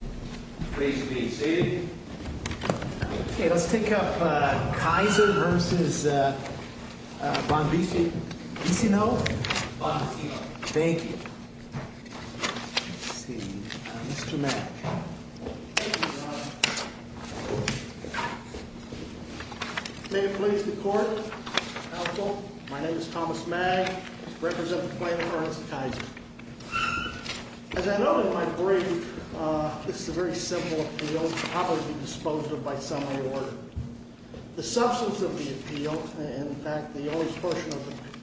May it please the Court, Counsel, my name is Thomas Magg. I represent the plaintiff, and I'd like to bring, this is a very simple appeal, probably disposed of by summary order. The substance of the appeal, in fact the only portion of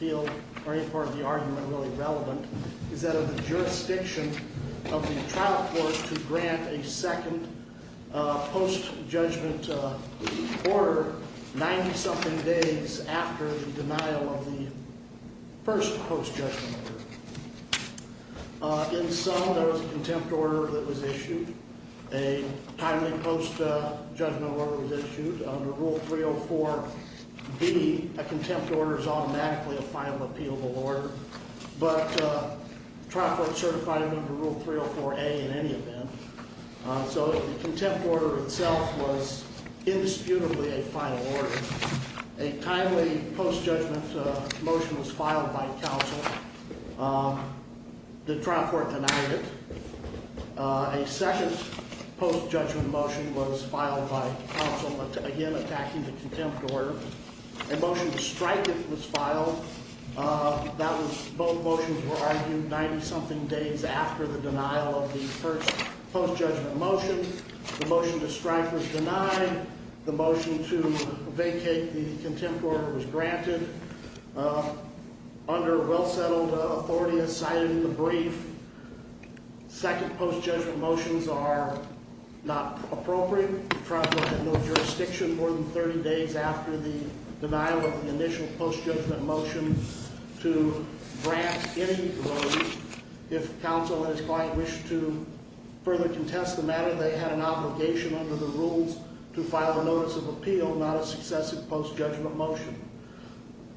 the appeal, or any part of the argument really relevant, is that of the jurisdiction of the trial court to grant a second post-judgment order 90-something days after the denial of the first post-judgment order. In sum, there was a contempt order that was issued, a timely post-judgment order was issued. Under Rule 304B, a contempt order is automatically a final appealable order, but the trial court certified it under Rule 304A in any event. So the contempt order itself was indisputably a final order. A timely post-judgment motion was filed by counsel. The trial court denied it. A second post-judgment motion was filed by counsel, again attacking the contempt order. A motion to strike it was filed. Both motions were argued 90-something days after the denial of the first post-judgment motion. The motion to strike was denied. The motion to vacate the contempt order was granted. Under well-settled authority, as cited in the brief, second post-judgment motions are not appropriate. The trial court had no jurisdiction more than 30 days after the denial of the initial post-judgment motion to grant any of those. If counsel and his client wished to further contest the matter, they had an obligation under the rules to file a notice of appeal, not a successive post-judgment motion.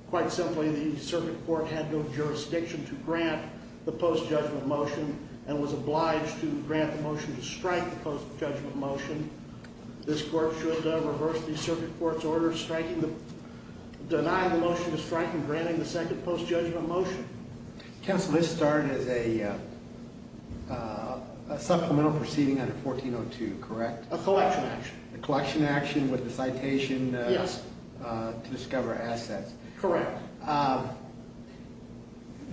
Quite simply, the circuit court had no jurisdiction to grant the post-judgment motion and was obliged to grant the motion to strike the post-judgment motion. This court should reverse the circuit court's order denying the motion to strike and granting the second post-judgment motion. Counsel, this started as a supplemental proceeding under 1402, correct? A collection action. A collection action with the citation to discover assets. Correct.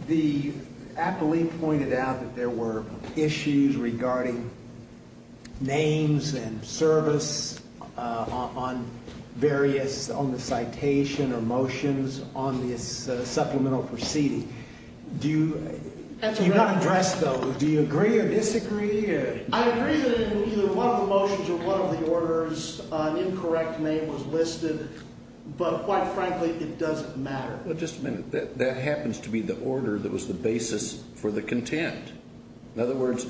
The appellee pointed out that there were issues regarding names and service on various, on the citation or motions on this supplemental proceeding. Do you not address those? Do you agree or disagree? I agree that in either one of the motions or one of the orders, an incorrect name was listed, but quite frankly, it doesn't matter. Well, just a minute. That happens to be the order that was the basis for the contempt. In other words,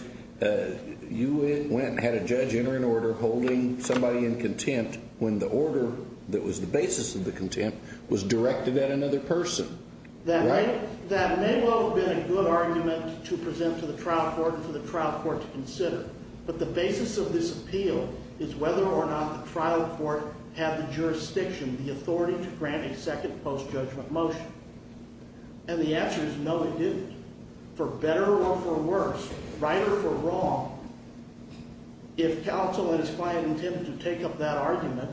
you went and had a judge enter an order holding somebody in contempt when the order that was the basis of the contempt was directed at another person. Right. That may well have been a good argument to present to the trial court and for the trial court to consider. But the basis of this appeal is whether or not the trial court had the jurisdiction, the authority to grant a second post-judgment motion. And the answer is no, it didn't. For better or for worse, right or for wrong, if counsel and his client intended to take up that argument,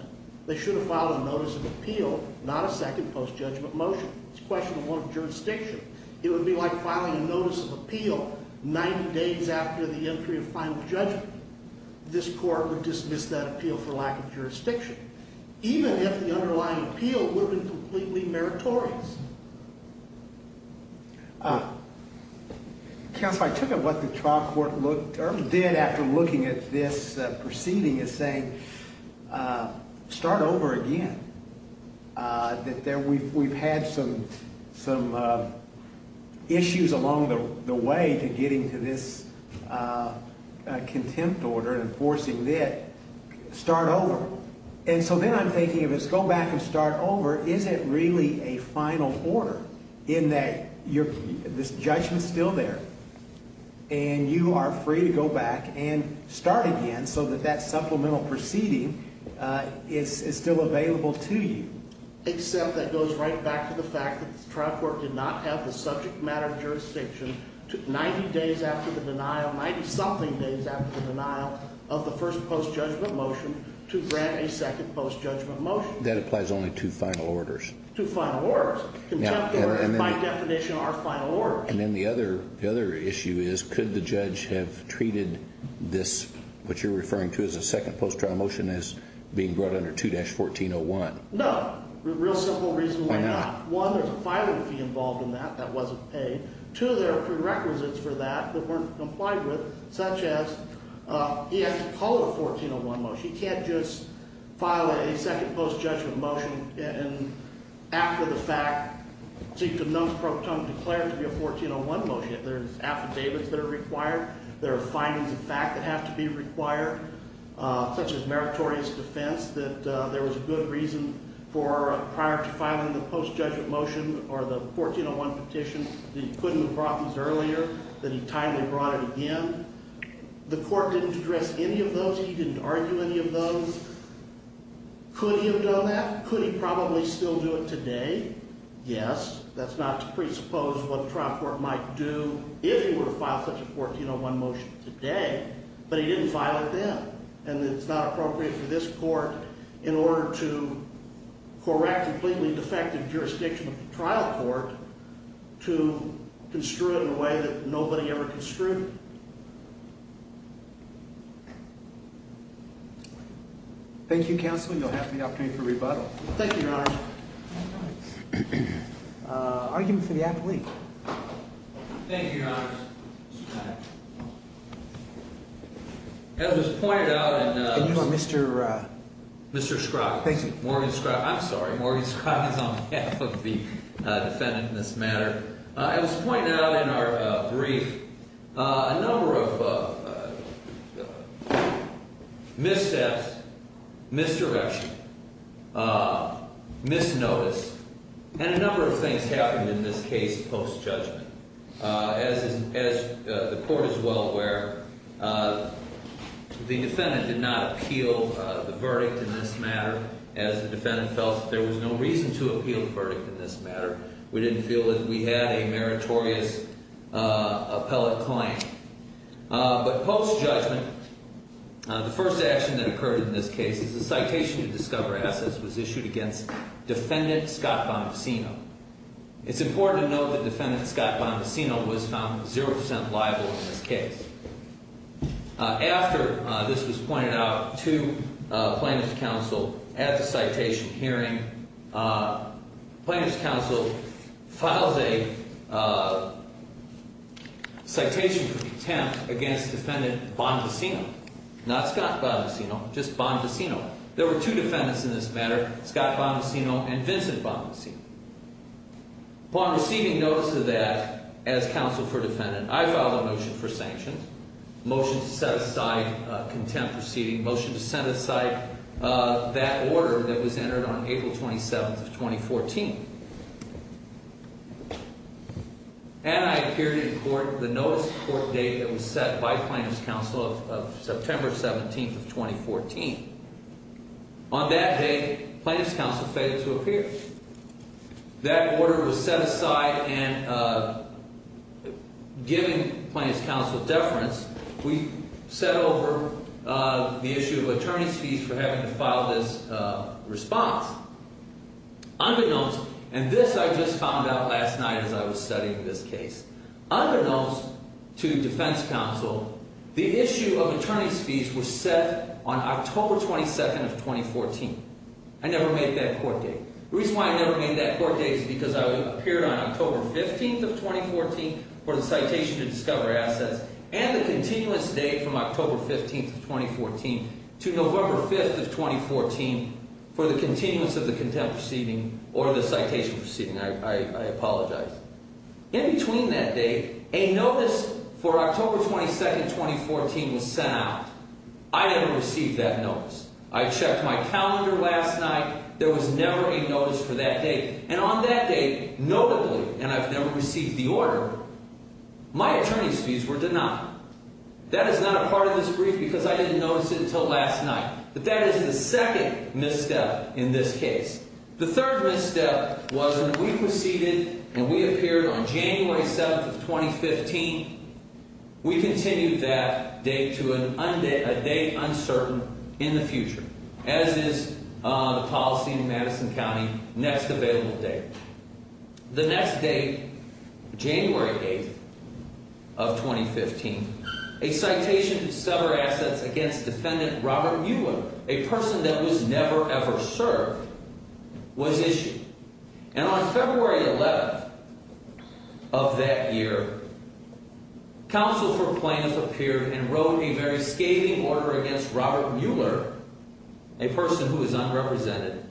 they should have filed a notice of appeal, not a second post-judgment motion. It's a question of jurisdiction. It would be like filing a notice of appeal 90 days after the entry of final judgment. This court would dismiss that appeal for lack of jurisdiction, even if the underlying appeal would have been completely meritorious. Counsel, I took a look at what the trial court did after looking at this proceeding and saying, start over again. We've had some issues along the way to getting to this contempt order and enforcing it. Start over. And so then I'm thinking if it's go back and start over, is it really a final order in that this judgment's still there and you are free to go back and start again so that that supplemental proceeding is still available to you? Except that goes right back to the fact that the trial court did not have the subject matter of jurisdiction 90 days after the denial, 90-something days after the denial of the first post-judgment motion to grant a second post-judgment motion. That applies only to final orders. To final orders. Contempt orders, by definition, are final orders. And then the other issue is, could the judge have treated this, what you're referring to as a second post-trial motion, as being brought under 2-1401? No. Real simple reason why not. Why not? One, there's a filing fee involved in that. That wasn't paid. Two, there are prerequisites for that that weren't complied with, such as he has to call it a 1401 motion. He can't just file a second post-judgment motion after the fact. So you can non-pro tone declare it to be a 1401 motion. There's affidavits that are required. There are findings of fact that have to be required, such as meritorious defense, that there was a good reason for prior to filing the post-judgment motion or the 1401 petition that he couldn't have brought these earlier, that he timely brought it again. The court didn't address any of those. He didn't argue any of those. Could he have done that? Could he probably still do it today? Yes. That's not to presuppose what the trial court might do if he were to file such a 1401 motion today. But he didn't file it then. And it's not appropriate for this court, in order to correct completely defective jurisdiction of the trial court, to construe it in a way that nobody ever construed. Thank you, counsel. You'll have the opportunity for rebuttal. Thank you, Your Honor. Argument for the appellee. Thank you, Your Honor. As was pointed out in Mr. Scroggins. Thank you. Morgan Scroggins. I'm sorry, Morgan Scroggins on behalf of the defendant in this matter. As was pointed out in our brief, a number of missteps, misdirection, misnotice, and a number of things happened in this case post-judgment. As the court is well aware, the defendant did not appeal the verdict in this matter. As the defendant felt that there was no reason to appeal the verdict in this matter. We didn't feel that we had a meritorious appellate client. But post-judgment, the first action that occurred in this case is a citation to discover assets was issued against Defendant Scott Bombacino. It's important to note that Defendant Scott Bombacino was found 0% liable in this case. After this was pointed out to plaintiff's counsel at the citation hearing, plaintiff's counsel filed a citation for contempt against Defendant Bombacino. Not Scott Bombacino, just Bombacino. There were two defendants in this matter, Scott Bombacino and Vincent Bombacino. Upon receiving notice of that, as counsel for defendant, I filed a motion for sanctions. Motion to set aside contempt proceeding, motion to set aside that order that was entered on April 27th of 2014. And I appeared in court the notice of court date that was set by plaintiff's counsel of September 17th of 2014. On that day, plaintiff's counsel failed to appear. That order was set aside and given plaintiff's counsel deference. We set over the issue of attorney's fees for having to file this response. Under notes, and this I just found out last night as I was studying this case. Under notes to defense counsel, the issue of attorney's fees was set on October 22nd of 2014. I never made that court date. The reason why I never made that court date is because I appeared on October 15th of 2014 for the citation to discover assets. And the continuous date from October 15th of 2014 to November 5th of 2014 for the continuous of the contempt proceeding or the citation proceeding. I apologize. In between that date, a notice for October 22nd of 2014 was sent out. I never received that notice. I checked my calendar last night. There was never a notice for that date. And on that date, notably, and I've never received the order, my attorney's fees were denied. That is not a part of this brief because I didn't notice it until last night. But that is the second misstep in this case. The third misstep was when we proceeded and we appeared on January 7th of 2015. We continued that date to a date uncertain in the future, as is the policy in Madison County, next available date. The next date, January 8th of 2015, a citation to discover assets against defendant Robert Mueller, a person that was never, ever served, was issued. And on February 11th of that year, counsel for plaintiffs appeared and wrote a very scathing order against Robert Mueller, a person who is unrepresented,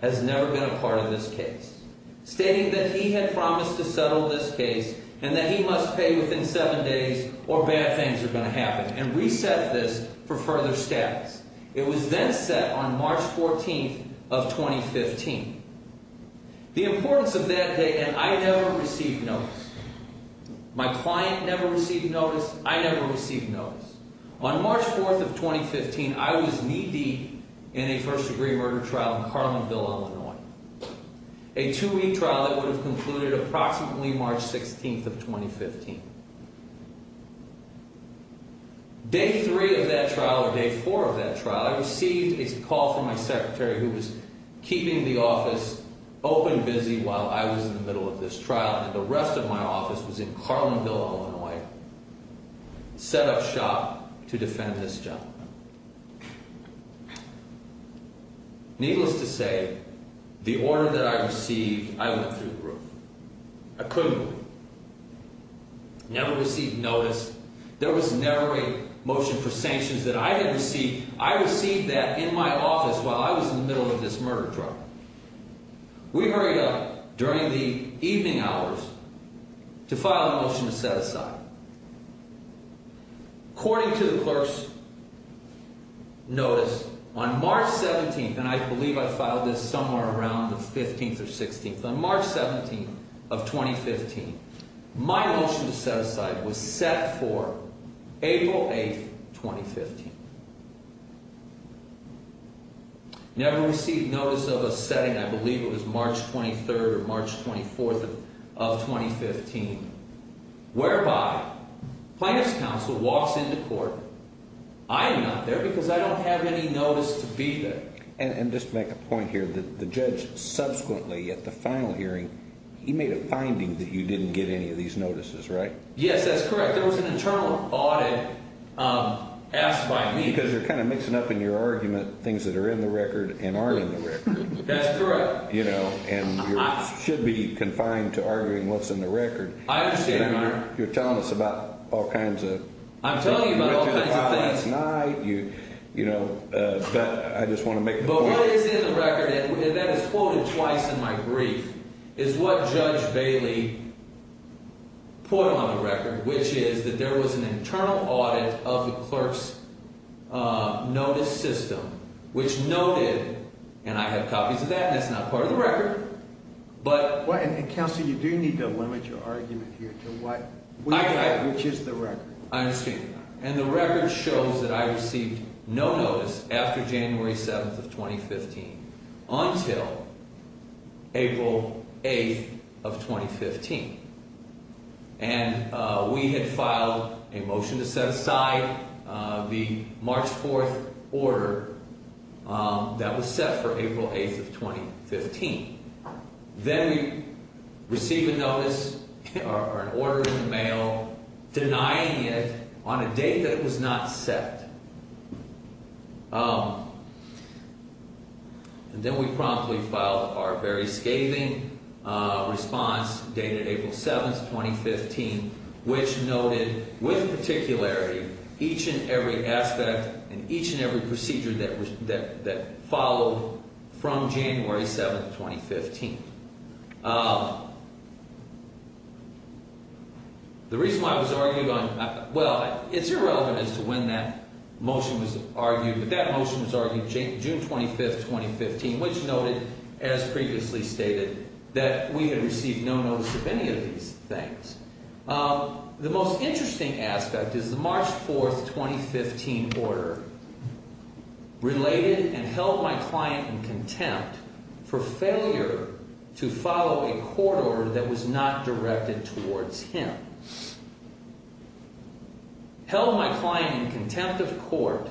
has never been a part of this case. Stating that he had promised to settle this case and that he must pay within seven days or bad things are going to happen and reset this for further status. It was then set on March 14th of 2015. The importance of that date, and I never received notice. My client never received notice. I never received notice. On March 4th of 2015, I was knee deep in a first degree murder trial in Carlinville, Illinois. A two-week trial that would have concluded approximately March 16th of 2015. Day three of that trial or day four of that trial, I received a call from my secretary who was keeping the office open busy while I was in the middle of this trial. And the rest of my office was in Carlinville, Illinois, set up shop to defend this gentleman. Needless to say, the order that I received, I went through the roof. I couldn't. Never received notice. There was never a motion for sanctions that I had received. I received that in my office while I was in the middle of this murder trial. We hurried up during the evening hours to file a motion to set aside. According to the clerk's notice, on March 17th, and I believe I filed this somewhere around the 15th or 16th, on March 17th of 2015, my motion to set aside was set for April 8th, 2015. Never received notice of a setting. I believe it was March 23rd or March 24th of 2015, whereby plaintiff's counsel walks into court. I am not there because I don't have any notice to be there. And just to make a point here, the judge subsequently at the final hearing, he made a finding that you didn't get any of these notices, right? Yes, that's correct. But there was an internal audit asked by me. Because you're kind of mixing up in your argument things that are in the record and aren't in the record. That's correct. You know, and you should be confined to arguing what's in the record. I understand, Your Honor. You're telling us about all kinds of things. I'm telling you about all kinds of things. You went through the file last night. You know, but I just want to make the point. What is in the record, and that is quoted twice in my brief, is what Judge Bailey put on the record, which is that there was an internal audit of the clerk's notice system, which noted, and I have copies of that, and that's not part of the record. And, Counsel, you do need to limit your argument here to what you have, which is the record. I understand. And the record shows that I received no notice after January 7th of 2015 until April 8th of 2015. And we had filed a motion to set aside the March 4th order that was set for April 8th of 2015. Then we received a notice or an order in the mail denying it on a date that was not set. And then we promptly filed our very scathing response dated April 7th, 2015, which noted with particularity each and every aspect and each and every procedure that followed from January 7th, 2015. The reason why I was arguing on – well, it's irrelevant as to when that motion was argued, but that motion was argued June 25th, 2015, which noted, as previously stated, that we had received no notice of any of these things. The most interesting aspect is the March 4th, 2015 order related and held my client in contempt for failure to follow a court order that was not directed towards him. Held my client in contempt of court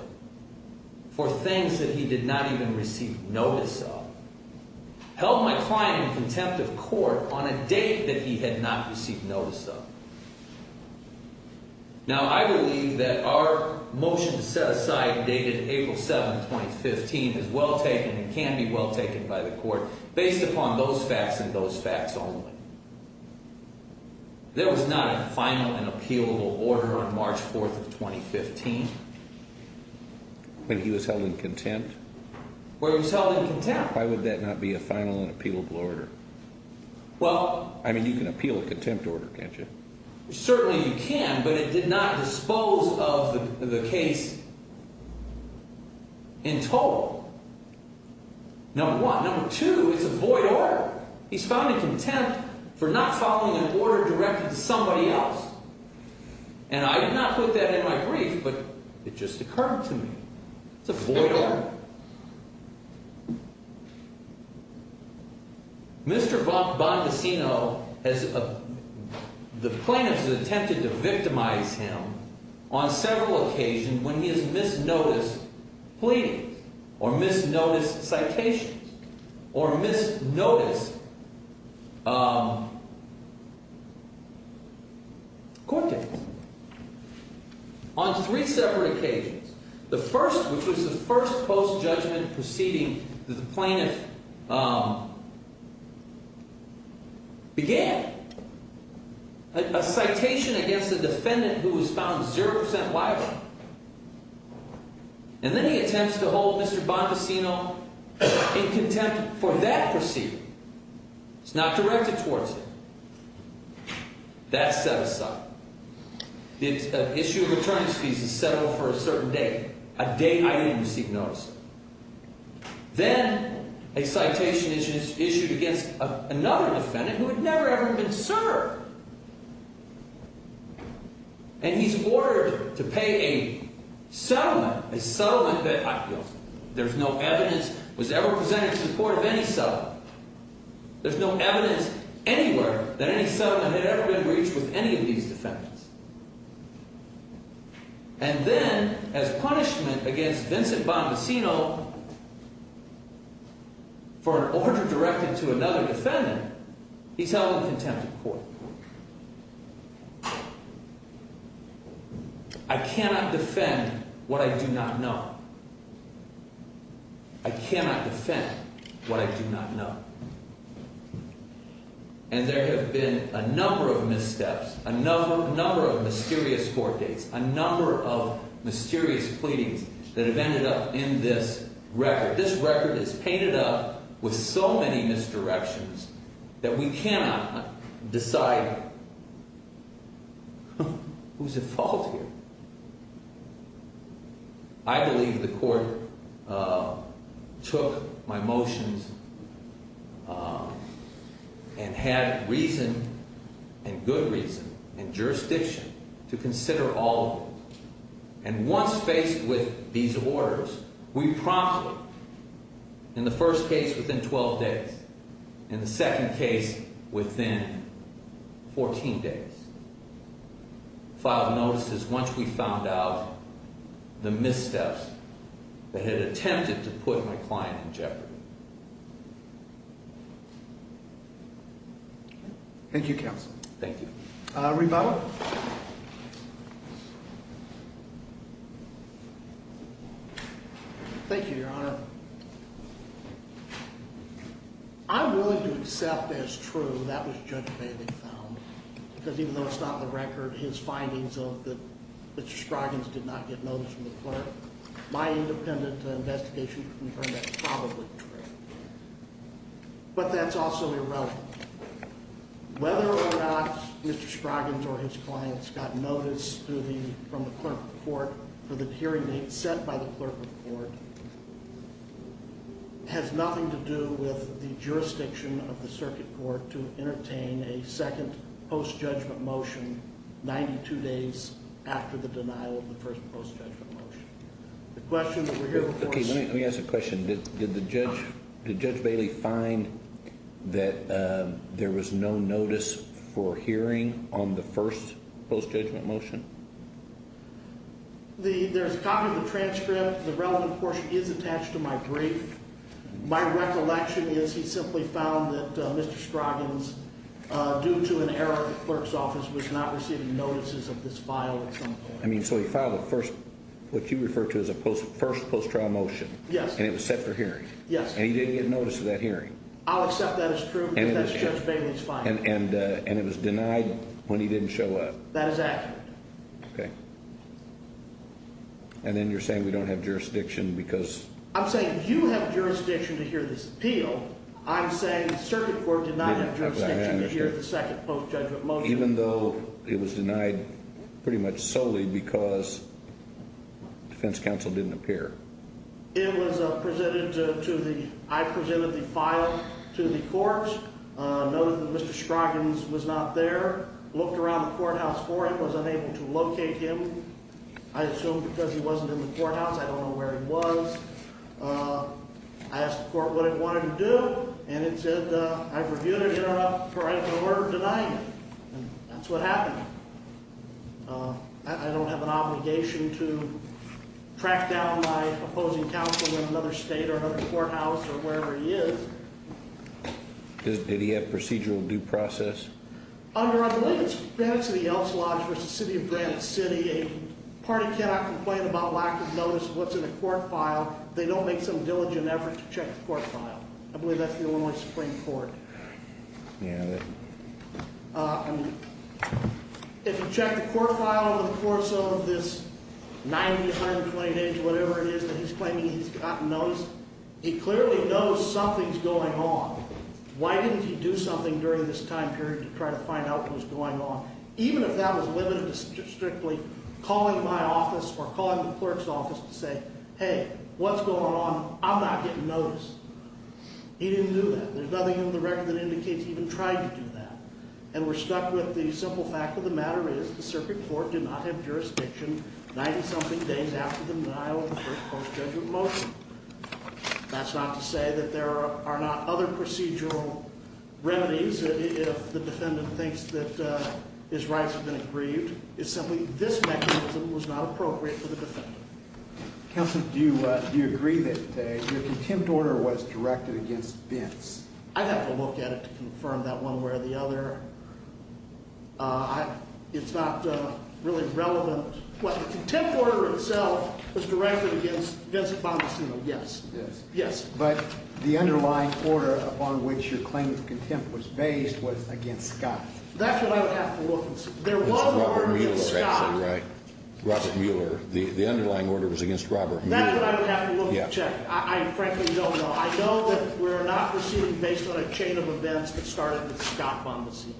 for things that he did not even receive notice of. Held my client in contempt of court on a date that he had not received notice of. Now, I believe that our motion to set aside dated April 7th, 2015 is well taken and can be well taken by the court based upon those facts and those facts only. There was not a final and appealable order on March 4th, 2015. When he was held in contempt? When he was held in contempt. Why would that not be a final and appealable order? Well – I mean, you can appeal a contempt order, can't you? Certainly you can, but it did not dispose of the case in total. Number one. Number two, it's a void order. He's found in contempt for not following an order directed to somebody else. And I did not put that in my brief, but it just occurred to me. It's a void order. Number three. Mr. Bondecino has – the plaintiff has attempted to victimize him on several occasions when he has misnoticed pleadings or misnoticed citations or misnoticed court dates. On three separate occasions. The first, which was the first post-judgment proceeding that the plaintiff began. A citation against a defendant who was found 0% liable. And then he attempts to hold Mr. Bondecino in contempt for that proceeding. It's not directed towards him. That's set aside. The issue of attorney's fees is set aside for a certain date. A date I didn't receive notice of. Then a citation is issued against another defendant who had never, ever been served. And he's ordered to pay a settlement, a settlement that there's no evidence was ever presented in support of any settlement. There's no evidence anywhere that any settlement had ever been reached with any of these defendants. And then, as punishment against Vincent Bondecino for an order directed to another defendant, he's held in contempt of court. I cannot defend what I do not know. I cannot defend what I do not know. And there have been a number of missteps, a number of mysterious court dates, a number of mysterious pleadings that have ended up in this record. This record is painted up with so many misdirections that we cannot decide who's at fault here. I believe the court took my motions and had reason and good reason and jurisdiction to consider all of them. And once faced with these orders, we promptly, in the first case within 12 days, in the second case within 14 days, filed notices once we found out the missteps that had attempted to put my client in jeopardy. Thank you, Counsel. Thank you. Reba? Thank you, Your Honor. I'm willing to accept as true that was Judge Bailey found, because even though it's not in the record, his findings of that Mr. Stroggins did not get notice from the clerk, my independent investigation can confirm that's probably true. But that's also irrelevant. Whether or not Mr. Stroggins or his clients got notice from the clerk of the court for the hearing date set by the clerk of the court, has nothing to do with the jurisdiction of the circuit court to entertain a second post-judgment motion 92 days after the denial of the first post-judgment motion. The question that we're here for is... Okay, let me ask a question. Did Judge Bailey find that there was no notice for hearing on the first post-judgment motion? There's a copy of the transcript. The relevant portion is attached to my brief. My recollection is he simply found that Mr. Stroggins, due to an error of the clerk's office, was not receiving notices of this file at some point. I mean, so he filed what you refer to as a first post-trial motion. Yes. And it was set for hearing? Yes. And he didn't get notice of that hearing? I'll accept that as true, because that's Judge Bailey's findings. And it was denied when he didn't show up? That is accurate. Okay. And then you're saying we don't have jurisdiction because... I'm saying you have jurisdiction to hear this appeal. I'm saying the circuit court did not have jurisdiction to hear the second post-judgment motion. Even though it was denied pretty much solely because defense counsel didn't appear? It was presented to the... I presented the file to the court, noted that Mr. Stroggins was not there, looked around the courthouse for him, was unable to locate him. I assume because he wasn't in the courthouse. I don't know where he was. I asked the court what it wanted to do, and it said, I've reviewed it. You're not correct in order to deny me. And that's what happened. I don't have an obligation to track down my opposing counsel in another state or another courthouse or wherever he is. Did he have procedural due process? Under I believe it's Granite City Elks Lodge v. City of Granite City, a party cannot complain about lack of notice of what's in a court file if they don't make some diligent effort to check the court file. I believe that's the Illinois Supreme Court. Yeah. If you check the court file over the course of this 90, 120 days, whatever it is that he's claiming he's gotten notice, he clearly knows something's going on. Why didn't he do something during this time period to try to find out what was going on, even if that was limited to strictly calling my office or calling the clerk's office to say, hey, what's going on? I'm not getting notice. He didn't do that. There's nothing in the record that indicates he even tried to do that. And we're stuck with the simple fact of the matter is the circuit court did not have jurisdiction 90-something days after the denial of the first post-judgment motion. That's not to say that there are not other procedural remedies if the defendant thinks that his rights have been aggrieved. It's simply this mechanism was not appropriate for the defendant. Counsel, do you agree that your contempt order was directed against Vince? I'd have to look at it to confirm that one way or the other. It's not really relevant. The contempt order itself was directed against Vince Bombacino. Yes. Yes. But the underlying order upon which your claim of contempt was based was against Scott. That's what I would have to look and see. There were orders against Scott. Robert Mueller. The underlying order was against Robert Mueller. That's what I would have to look and check. I frankly don't know. I know that we're not proceeding based on a chain of events that started with Scott Bombacino.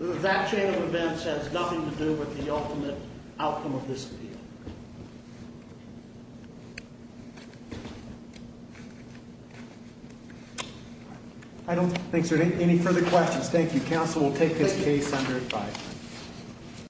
That chain of events has nothing to do with the ultimate outcome of this appeal. I don't think there are any further questions. Thank you. Counsel will take this case under advisory.